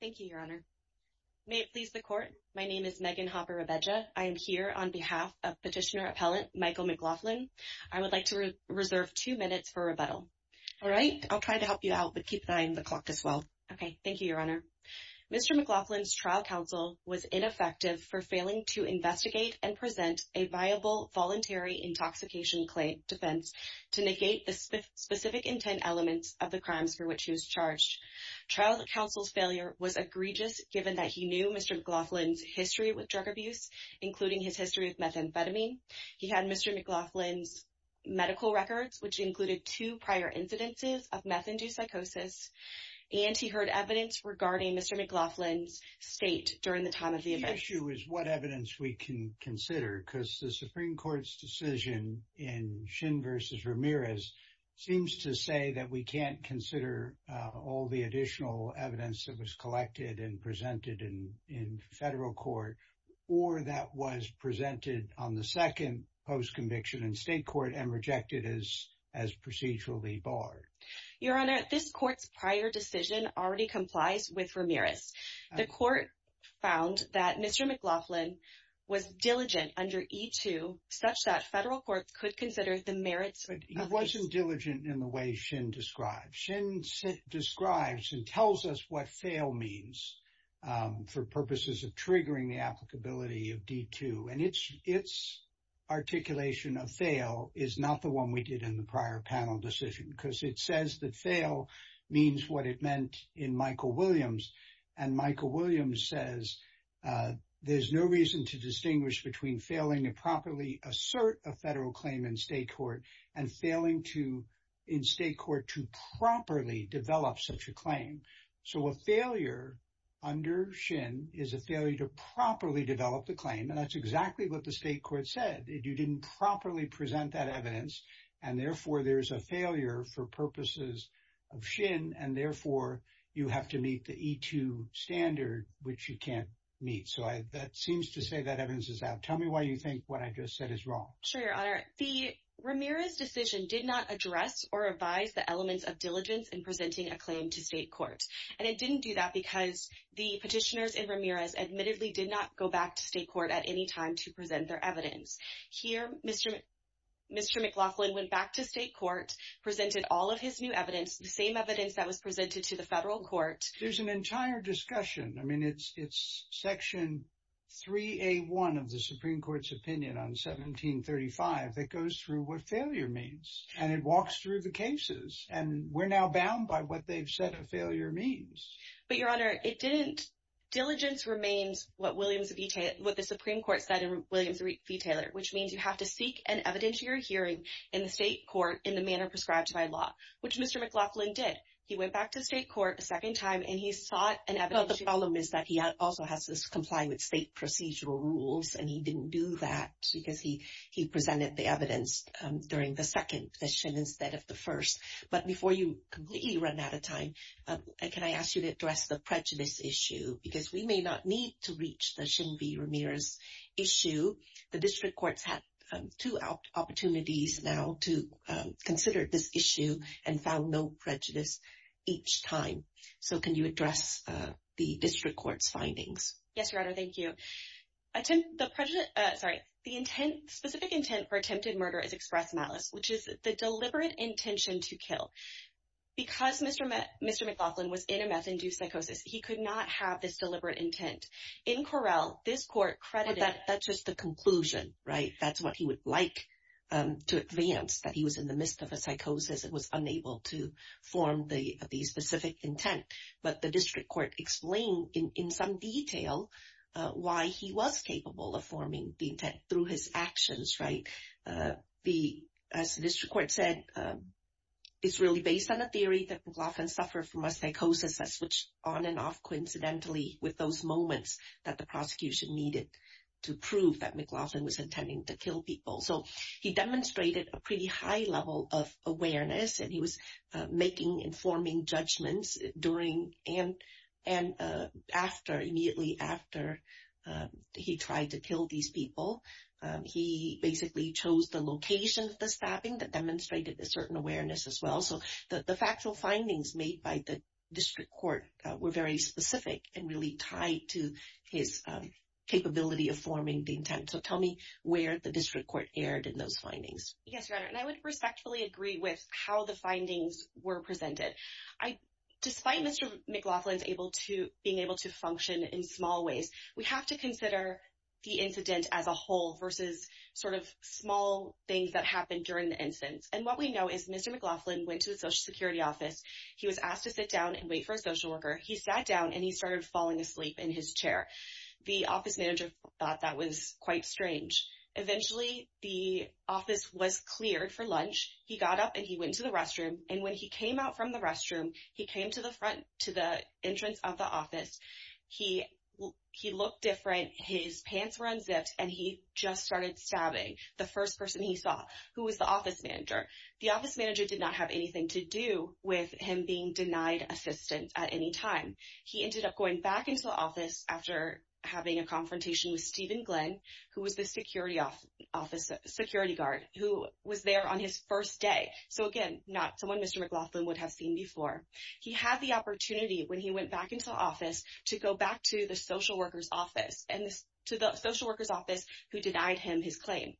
Thank you, Your Honor. May it please the Court, my name is Megan Hopper-Rabeja. I am here on behalf of Petitioner Appellant Michael McLaughlin. I would like to reserve two minutes for rebuttal. All right, I'll try to help you out, but keep an eye on the clock as well. Okay, thank you, Your Honor. Mr. McLaughlin's trial counsel was ineffective for failing to investigate and present a viable voluntary intoxication defense to negate the specific intent elements of the crimes for which he was charged. Trial counsel's failure was egregious given that he knew Mr. McLaughlin's history with drug abuse, including his history with methamphetamine. He had Mr. McLaughlin's medical records, which included two prior incidences of meth-induced psychosis, and he heard evidence regarding Mr. McLaughlin's state during the time of the event. The issue is what evidence we can consider, because the Supreme Court's decision in Shin v. Ramirez seems to say that we can't consider all the additional evidence that was collected and presented in federal court or that was presented on the second post-conviction in state court and rejected as procedurally barred. Your Honor, this court's prior decision already complies with Ramirez. The court found that Mr. McLaughlin was diligent under E-2 such that federal courts could consider the merits of the case. So, a failure under Shin is a failure to properly develop the claim, and that's exactly what the state court said. You didn't properly present that evidence, and therefore, there's a failure for purposes of Shin, and therefore, you have to meet the E-2 standard, which you can't meet. So, that seems to say that evidence is out. Tell me why you think what I just said is wrong. Sure, Your Honor. The Ramirez decision did not address or advise the elements of diligence in presenting a claim to state court, and it didn't do that because the petitioners in Ramirez admittedly did not go back to state court at any time to present their evidence. Here, Mr. McLaughlin went back to state court, presented all of his new evidence, the same evidence that was presented to the federal court. There's an entire discussion. I mean, it's Section 3A1 of the Supreme Court's opinion on 1735 that goes through what failure means, and it walks through the cases, and we're now bound by what they've said a failure means. But, Your Honor, it didn't. Diligence remains what the Supreme Court said in Williams v. Taylor, which means you have to seek an evidence of your hearing in the state court in the manner prescribed by law, which Mr. McLaughlin did. He went back to state court a second time, and he sought an evidence. But the problem is that he also has to comply with state procedural rules, and he didn't do that because he presented the evidence during the second petition instead of the first. But before you completely run out of time, can I ask you to address the prejudice issue? Because we may not need to reach the Shin V. Ramirez issue. The district courts have two opportunities now to consider this issue and found no prejudice each time. So can you address the district court's findings? Yes, Your Honor. Thank you. The specific intent for attempted murder is express malice, which is the deliberate intention to kill. Because Mr. McLaughlin was in a meth-induced psychosis, he could not have this deliberate intent. In Correll, this court credited— But that's just the conclusion, right? That's what he would like to advance, that he was in the midst of a psychosis and was unable to form the specific intent. But the district court explained in some detail why he was capable of forming the intent through his actions, right? As the district court said, it's really based on a theory that McLaughlin suffered from a psychosis that switched on and off coincidentally with those moments that the prosecution needed to prove that McLaughlin was intending to kill people. So he demonstrated a pretty high level of awareness, and he was making and forming judgments immediately after he tried to kill these people. He basically chose the location of the stabbing that demonstrated a certain awareness as well. So the factual findings made by the district court were very specific and really tied to his capability of forming the intent. So tell me where the district court erred in those findings. Yes, Your Honor, and I would respectfully agree with how the findings were presented. Despite Mr. McLaughlin being able to function in small ways, we have to consider the incident as a whole versus sort of small things that happened during the incident. And what we know is Mr. McLaughlin went to the Social Security office. He was asked to sit down and wait for a social worker. He sat down, and he started falling asleep in his chair. The office manager thought that was quite strange. Eventually, the office was cleared for lunch. He got up, and he went to the restroom, and when he came out from the restroom, he came to the front to the entrance of the office. He looked different. His pants were unzipped, and he just started stabbing the first person he saw, who was the office manager. The office manager did not have anything to do with him being denied assistance at any time. He ended up going back into the office after having a confrontation with Stephen Glenn, who was the security guard, who was there on his first day. So, again, not someone Mr. McLaughlin would have seen before. He had the opportunity, when he went back into the office, to go back to the social worker's office, and to the social worker's office, who denied him his claim.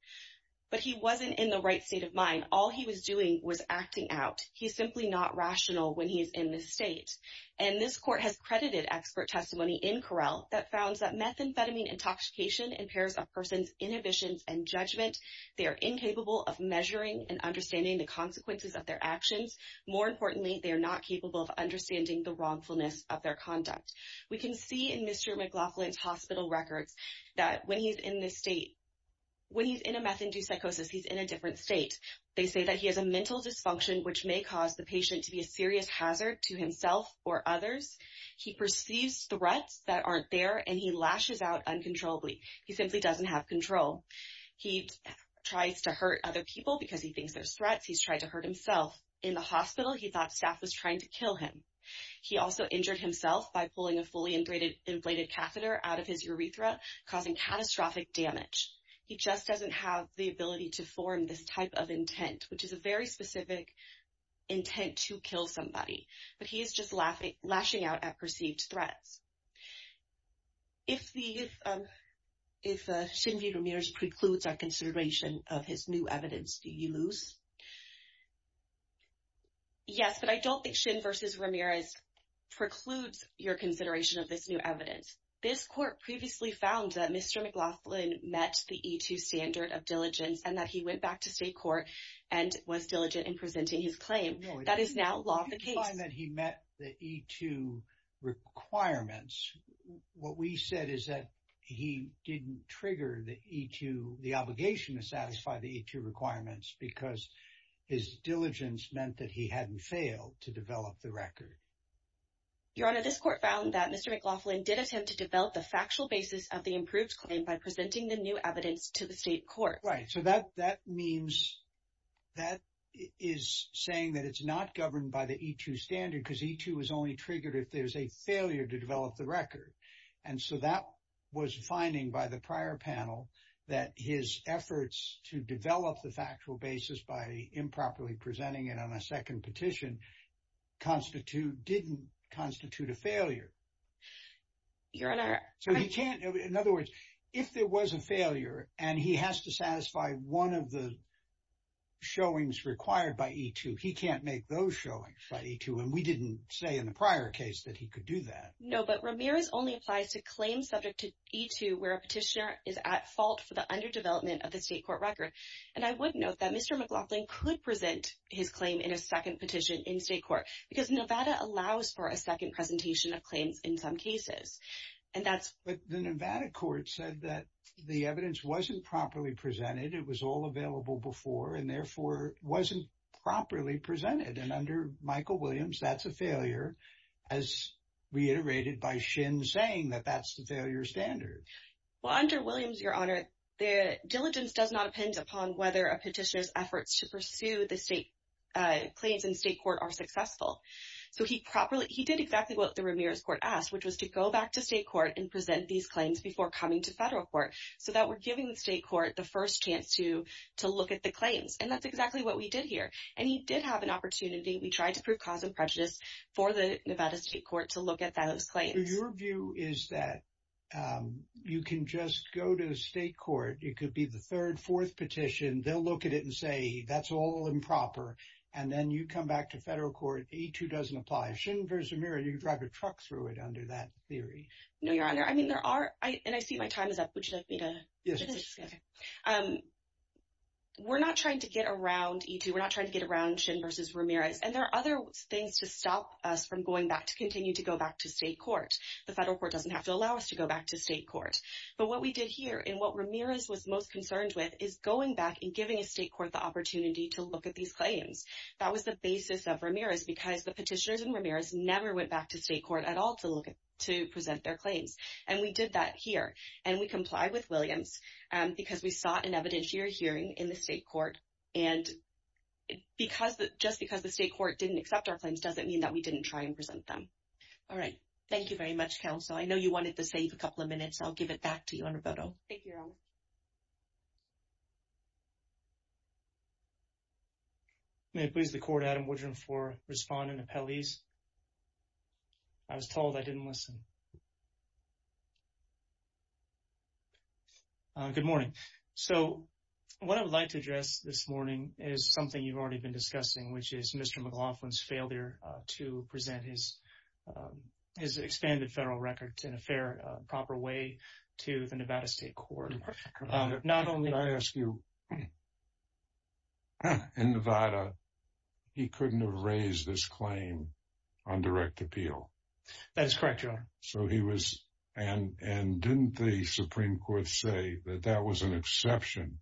But he wasn't in the right state of mind. All he was doing was acting out. He's simply not rational when he's in this state. And this court has credited expert testimony in Correll that founds that methamphetamine intoxication impairs a person's inhibitions and judgment. They are incapable of measuring and understanding the consequences of their actions. More importantly, they are not capable of understanding the wrongfulness of their conduct. We can see in Mr. McLaughlin's hospital records that when he's in this state, when he's in a meth-induced psychosis, he's in a different state. They say that he has a mental dysfunction, which may cause the patient to be a serious hazard to himself or others. He perceives threats that aren't there, and he lashes out uncontrollably. He simply doesn't have control. He tries to hurt other people because he thinks there's threats. He's tried to hurt himself. In the hospital, he thought staff was trying to kill him. He also injured himself by pulling a fully inflated catheter out of his urethra, causing catastrophic damage. He just doesn't have the ability to form this type of intent, which is a very specific intent to kill somebody. But he is just lashing out at perceived threats. If Shin V. Ramirez precludes our consideration of his new evidence, do you lose? Yes, but I don't think Shin V. Ramirez precludes your consideration of this new evidence. This court previously found that Mr. McLaughlin met the E-2 standard of diligence and that he went back to state court and was diligent in presenting his claim. That is now law of the case. If you find that he met the E-2 requirements, what we said is that he didn't trigger the E-2, the obligation to satisfy the E-2 requirements because his diligence meant that he hadn't failed to develop the record. Your Honor, this court found that Mr. McLaughlin did attempt to develop the factual basis of the improved claim by presenting the new evidence to the state court. Right, so that means that is saying that it's not governed by the E-2 standard because E-2 is only triggered if there's a failure to develop the record. And so that was finding by the prior panel that his efforts to develop the factual basis by improperly presenting it on a second petition constitute, didn't constitute a failure. Your Honor. So he can't, in other words, if there was a failure and he has to satisfy one of the showings required by E-2, he can't make those showings by E-2 and we didn't say in the prior case that he could do that. No, but Ramirez only applies to claims subject to E-2 where a petitioner is at fault for the underdevelopment of the state court record. And I would note that Mr. McLaughlin could present his claim in a second petition in state court because Nevada allows for a second presentation of claims in some cases. But the Nevada court said that the evidence wasn't properly presented. It was all available before and therefore wasn't properly presented. And under Michael Williams, that's a failure as reiterated by Shin saying that that's the failure standard. Well, under Williams, Your Honor, the diligence does not depend upon whether a petitioner's efforts to pursue the state claims in state court are successful. So he properly, he did exactly what the Ramirez court asked, which was to go back to state court and present these claims before coming to federal court so that we're giving the state court the first chance to look at the claims. And that's exactly what we did here. And he did have an opportunity. We tried to prove cause and prejudice for the Nevada state court to look at those claims. So your view is that you can just go to state court. It could be the third, fourth petition. They'll look at it and say that's all improper. And then you come back to federal court. E2 doesn't apply. Shin versus Ramirez, you drive a truck through it under that theory. No, Your Honor. I mean, there are, and I see my time is up. We're not trying to get around E2. We're not trying to get around Shin versus Ramirez. And there are other things to stop us from going back to continue to go back to state court. The federal court doesn't have to allow us to go back to state court. But what we did here and what Ramirez was most concerned with is going back and giving a state court the opportunity to look at these claims. That was the basis of Ramirez because the petitioners in Ramirez never went back to state court at all to present their claims. And we did that here. And we complied with Williams because we sought an evidentiary hearing in the state court. And just because the state court didn't accept our claims doesn't mean that we didn't try and present them. All right. Thank you very much, counsel. I know you wanted to save a couple of minutes. I'll give it back to you, Your Honor. Thank you, Your Honor. May it please the court, Adam Woodrum for respondent appellees. I was told I didn't listen. Good morning. Good morning. So what I would like to address this morning is something you've already been discussing, which is Mr. McLaughlin's failure to present his expanded federal records in a fair, proper way to the Nevada State Court. Could I ask you, in Nevada, he couldn't have raised this claim on direct appeal? That is correct, Your Honor. And didn't the Supreme Court say that that was an exception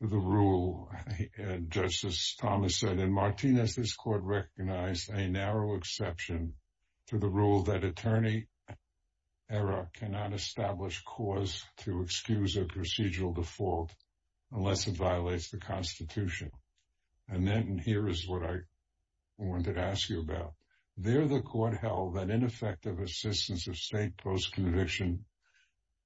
to the rule? And Justice Thomas said, and Martinez, this court recognized a narrow exception to the rule that attorney error cannot establish cause to excuse a procedural default unless it violates the Constitution. And then here is what I wanted to ask you about. There the court held that ineffective assistance of state post-conviction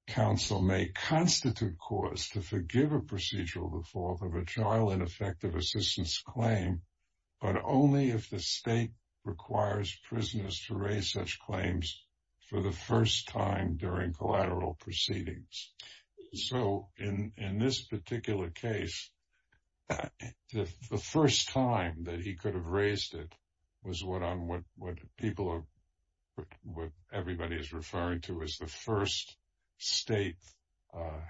counsel may constitute cause to forgive a procedural default of a child ineffective assistance claim, but only if the state requires prisoners to raise such claims for the first time during collateral proceedings. So in this particular case, the first time that he could have raised it was what everybody is referring to as the first state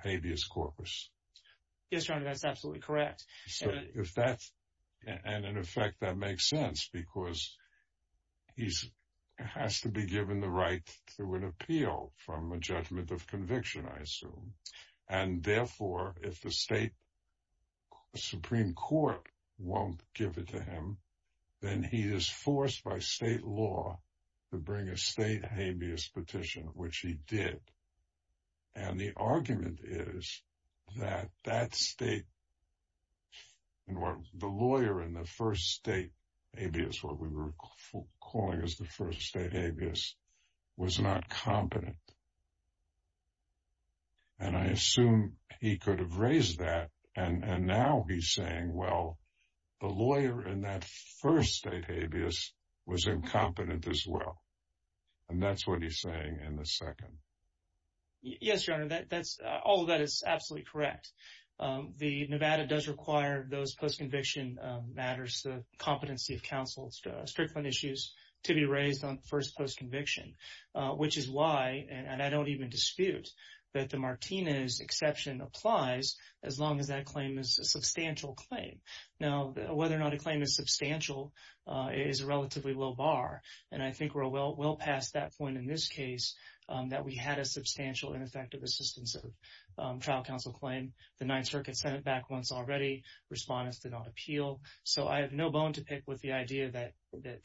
habeas corpus. Yes, Your Honor, that's absolutely correct. And in effect, that makes sense because he has to be given the right to an appeal from a judgment of conviction, I assume. And therefore, if the state Supreme Court won't give it to him, then he is forced by state law to bring a state habeas petition, which he did. And the argument is that that state, the lawyer in the first state habeas, what we were calling as the first state habeas, was not competent. And I assume he could have raised that. And now he's saying, well, the lawyer in that first state habeas was incompetent as well. And that's what he's saying in the second. Yes, Your Honor, all of that is absolutely correct. The Nevada does require those post-conviction matters, the competency of counsel, strictly issues to be raised on first post-conviction, which is why, and I don't even dispute, that the Martinez exception applies as long as that claim is a substantial claim. Now, whether or not a claim is substantial is a relatively low bar. And I think we're well past that point in this case that we had a substantial ineffective assistance of trial counsel claim. The Ninth Circuit sent it back once already. Respondents did not appeal. So I have no bone to pick with the idea that the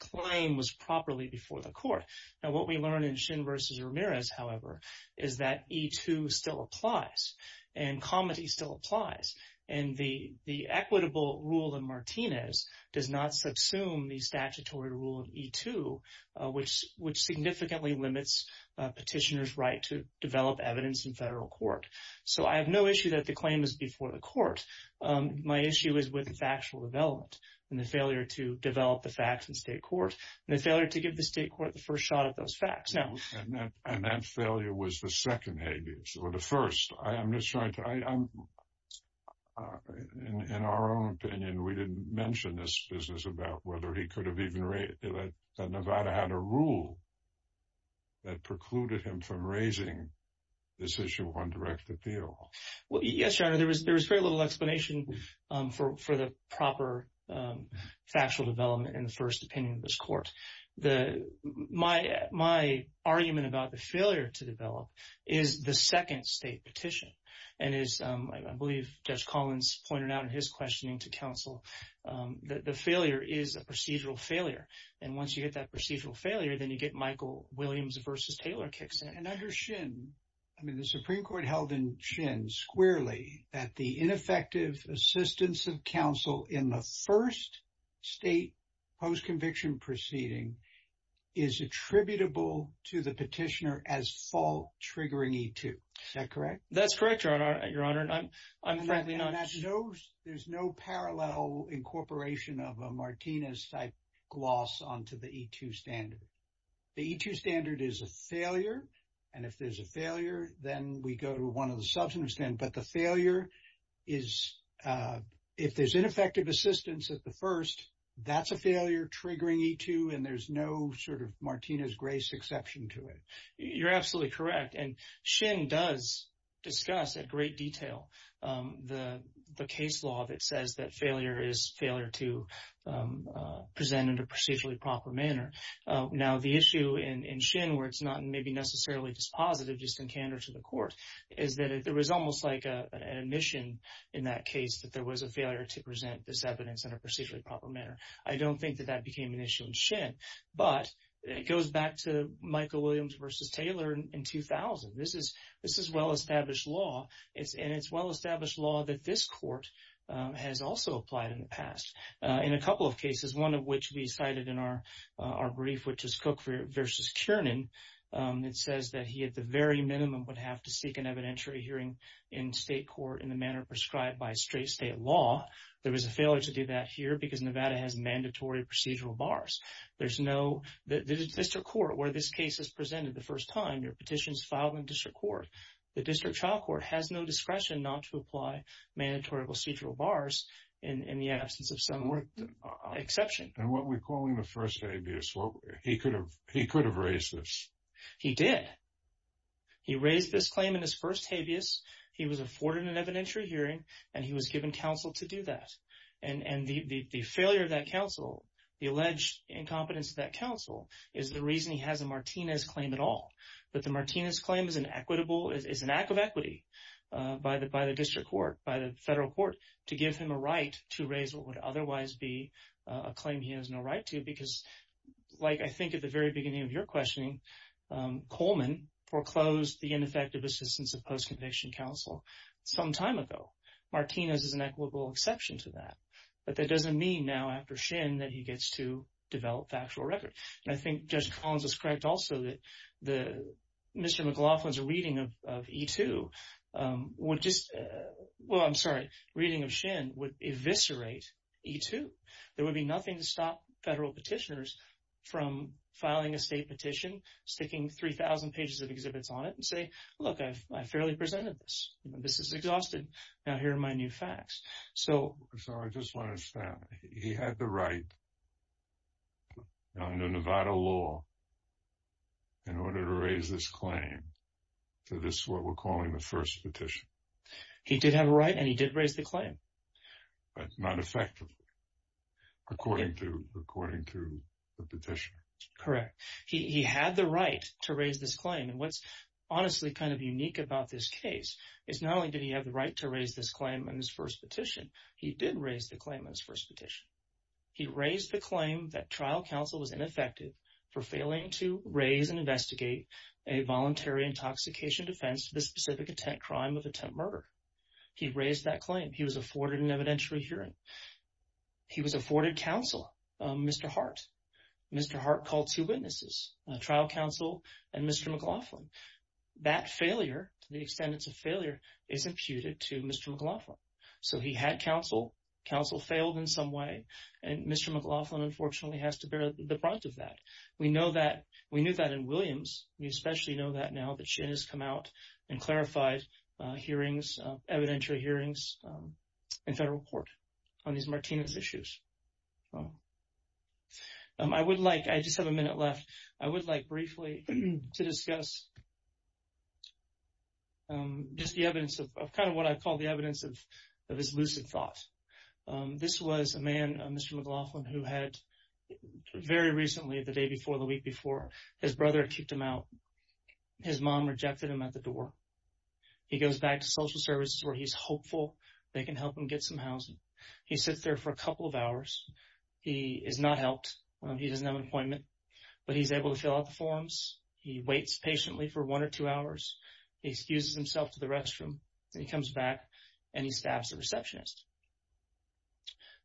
claim was properly before the court. Now, what we learn in Shin v. Ramirez, however, is that E2 still applies and comity still applies. And the equitable rule in Martinez does not subsume the statutory rule of E2, which significantly limits petitioner's right to develop evidence in federal court. So I have no issue that the claim is before the court. My issue is with the factual development and the failure to develop the facts in state court and the failure to give the state court the first shot at those facts. And that failure was the second habeas, or the first. I'm just trying to—in our own opinion, we didn't mention this business about whether he could have even— that Nevada had a rule that precluded him from raising this issue on direct appeal. Well, yes, Your Honor, there was very little explanation for the proper factual development in the first opinion of this court. My argument about the failure to develop is the second state petition. And as I believe Judge Collins pointed out in his questioning to counsel, the failure is a procedural failure. And once you get that procedural failure, then you get Michael Williams v. Taylor kicks in. And under Shin, I mean, the Supreme Court held in Shin, squarely, that the ineffective assistance of counsel in the first state post-conviction proceeding is attributable to the petitioner as fault-triggering E2. Is that correct? That's correct, Your Honor. I'm frankly not— There's no parallel incorporation of a Martinez-type gloss onto the E2 standard. The E2 standard is a failure, and if there's a failure, then we go to one of the substantive standards. But the failure is—if there's ineffective assistance at the first, that's a failure-triggering E2, and there's no sort of Martinez grace exception to it. You're absolutely correct, and Shin does discuss in great detail the case law that says that failure is failure to present in a procedurally proper manner. Now, the issue in Shin where it's not maybe necessarily just positive, just in candor to the court, is that there was almost like an admission in that case that there was a failure to present this evidence in a procedurally proper manner. I don't think that that became an issue in Shin. But it goes back to Michael Williams v. Taylor in 2000. This is well-established law, and it's well-established law that this court has also applied in the past in a couple of cases, one of which we cited in our brief, which is Cook v. Kiernan. It says that he, at the very minimum, would have to seek an evidentiary hearing in state court in the manner prescribed by straight state law. There was a failure to do that here because Nevada has mandatory procedural bars. There's no—the district court where this case is presented the first time, your petition is filed in district court. The district trial court has no discretion not to apply mandatory procedural bars in the absence of some exception. And what we're calling the first habeas, he could have raised this. He did. He raised this claim in his first habeas. He was afforded an evidentiary hearing, and he was given counsel to do that. And the failure of that counsel, the alleged incompetence of that counsel, is the reason he has a Martinez claim at all. But the Martinez claim is an equitable—is an act of equity by the district court, by the federal court, to give him a right to raise what would otherwise be a claim he has no right to because, like I think at the very beginning of your questioning, Coleman foreclosed the ineffective assistance of post-conviction counsel some time ago. Martinez is an equitable exception to that. But that doesn't mean now after Shin that he gets to develop the actual record. And I think Judge Collins is correct also that Mr. McLaughlin's reading of E2 would just—well, I'm sorry, reading of Shin would eviscerate E2. There would be nothing to stop federal petitioners from filing a state petition, sticking 3,000 pages of exhibits on it, and say, look, I fairly presented this. This is exhausted. Now here are my new facts. So I just want to understand. He had the right under Nevada law in order to raise this claim to this what we're calling the first petition. He did have a right and he did raise the claim. But not effectively according to the petition. Correct. He had the right to raise this claim. And what's honestly kind of unique about this case is not only did he have the right to raise this claim in his first petition, he did raise the claim in his first petition. He raised the claim that trial counsel was ineffective for failing to raise and investigate a voluntary intoxication defense to the specific attempt crime of attempt murder. He raised that claim. He was afforded an evidentiary hearing. He was afforded counsel, Mr. Hart. Mr. Hart called two witnesses, trial counsel and Mr. McLaughlin. That failure, the extendence of failure, is imputed to Mr. McLaughlin. So he had counsel. Counsel failed in some way. And Mr. McLaughlin, unfortunately, has to bear the brunt of that. We know that. We knew that in Williams. We especially know that now that she has come out and clarified hearings, evidentiary hearings, and federal court on these Martinez issues. I would like, I just have a minute left. I would like briefly to discuss just the evidence of kind of what I call the evidence of his lucid thoughts. This was a man, Mr. McLaughlin, who had very recently, the day before, the week before, his brother had kicked him out. His mom rejected him at the door. He goes back to social services where he's hopeful they can help him get some housing. He sits there for a couple of hours. He is not helped. He doesn't have an appointment. But he's able to fill out the forms. He waits patiently for one or two hours. He excuses himself to the restroom. Then he comes back and he stabs the receptionist,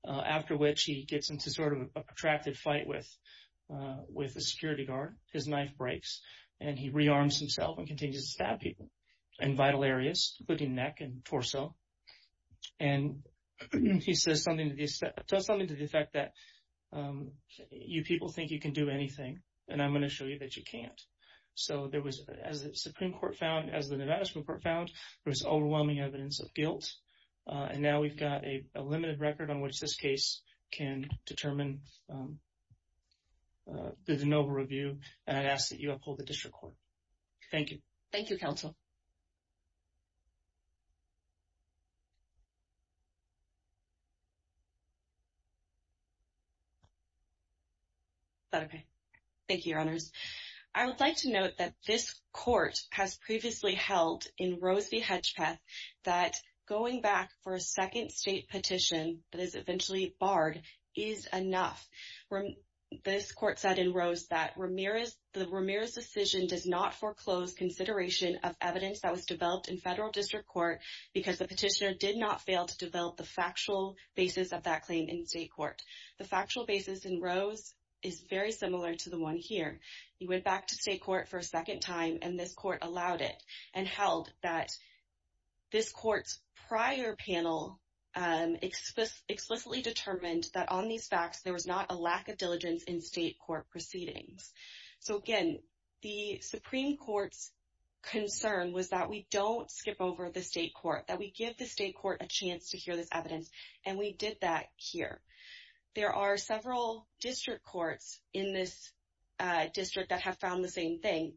after which he gets into sort of a protracted fight with the security guard. His knife breaks, and he rearms himself and continues to stab people in vital areas, including neck and torso. And he says something to the effect that, you people think you can do anything, and I'm going to show you that you can't. So there was, as the Supreme Court found, as the Nevada Supreme Court found, there was overwhelming evidence of guilt. And now we've got a limited record on which this case can determine the Nova review, and I'd ask that you uphold the district court. Thank you. Thank you, Counsel. Is that okay? Thank you, Your Honors. I would like to note that this court has previously held in Rose v. Hedgepeth that going back for a second state petition that is eventually barred is enough. This court said in Rose that the Ramirez decision does not foreclose consideration of evidence that was developed in federal district court because the petitioner did not fail to develop the factual basis of that claim in state court. The factual basis in Rose is very similar to the one here. He went back to state court for a second time, and this court allowed it and held that this court's prior panel explicitly determined that on these facts there was not a lack of diligence in state court proceedings. So, again, the Supreme Court's concern was that we don't skip over the state court, that we give the state court a chance to hear this evidence. And we did that here. There are several district courts in this district that have found the same thing,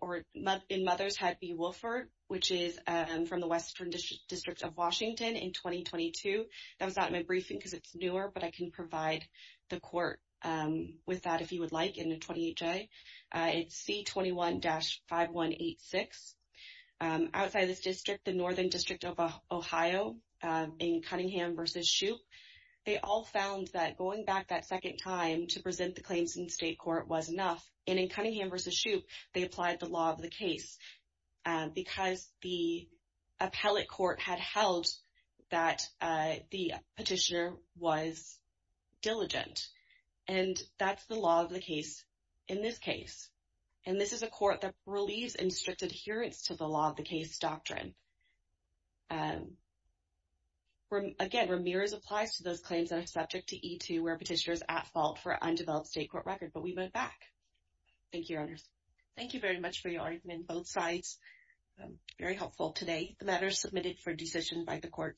or in Mothers Head v. Wilford, which is from the Western District of Washington in 2022. That was not in my briefing because it's newer, but I can provide the court with that if you would like in the 20HA. It's C21-5186. Outside of this district, the Northern District of Ohio in Cunningham v. Shoup, they all found that going back that second time to present the claims in state court was enough. And in Cunningham v. Shoup, they applied the law of the case because the appellate court had held that the petitioner was diligent. And that's the law of the case in this case. And this is a court that believes in strict adherence to the law of the case doctrine. Again, Ramirez applies to those claims that are subject to E2 where a petitioner is at fault for an undeveloped state court record, but we vote back. Thank you, Your Honors. Thank you very much for your argument on both sides. Very helpful today. The matter is submitted for decision by the court.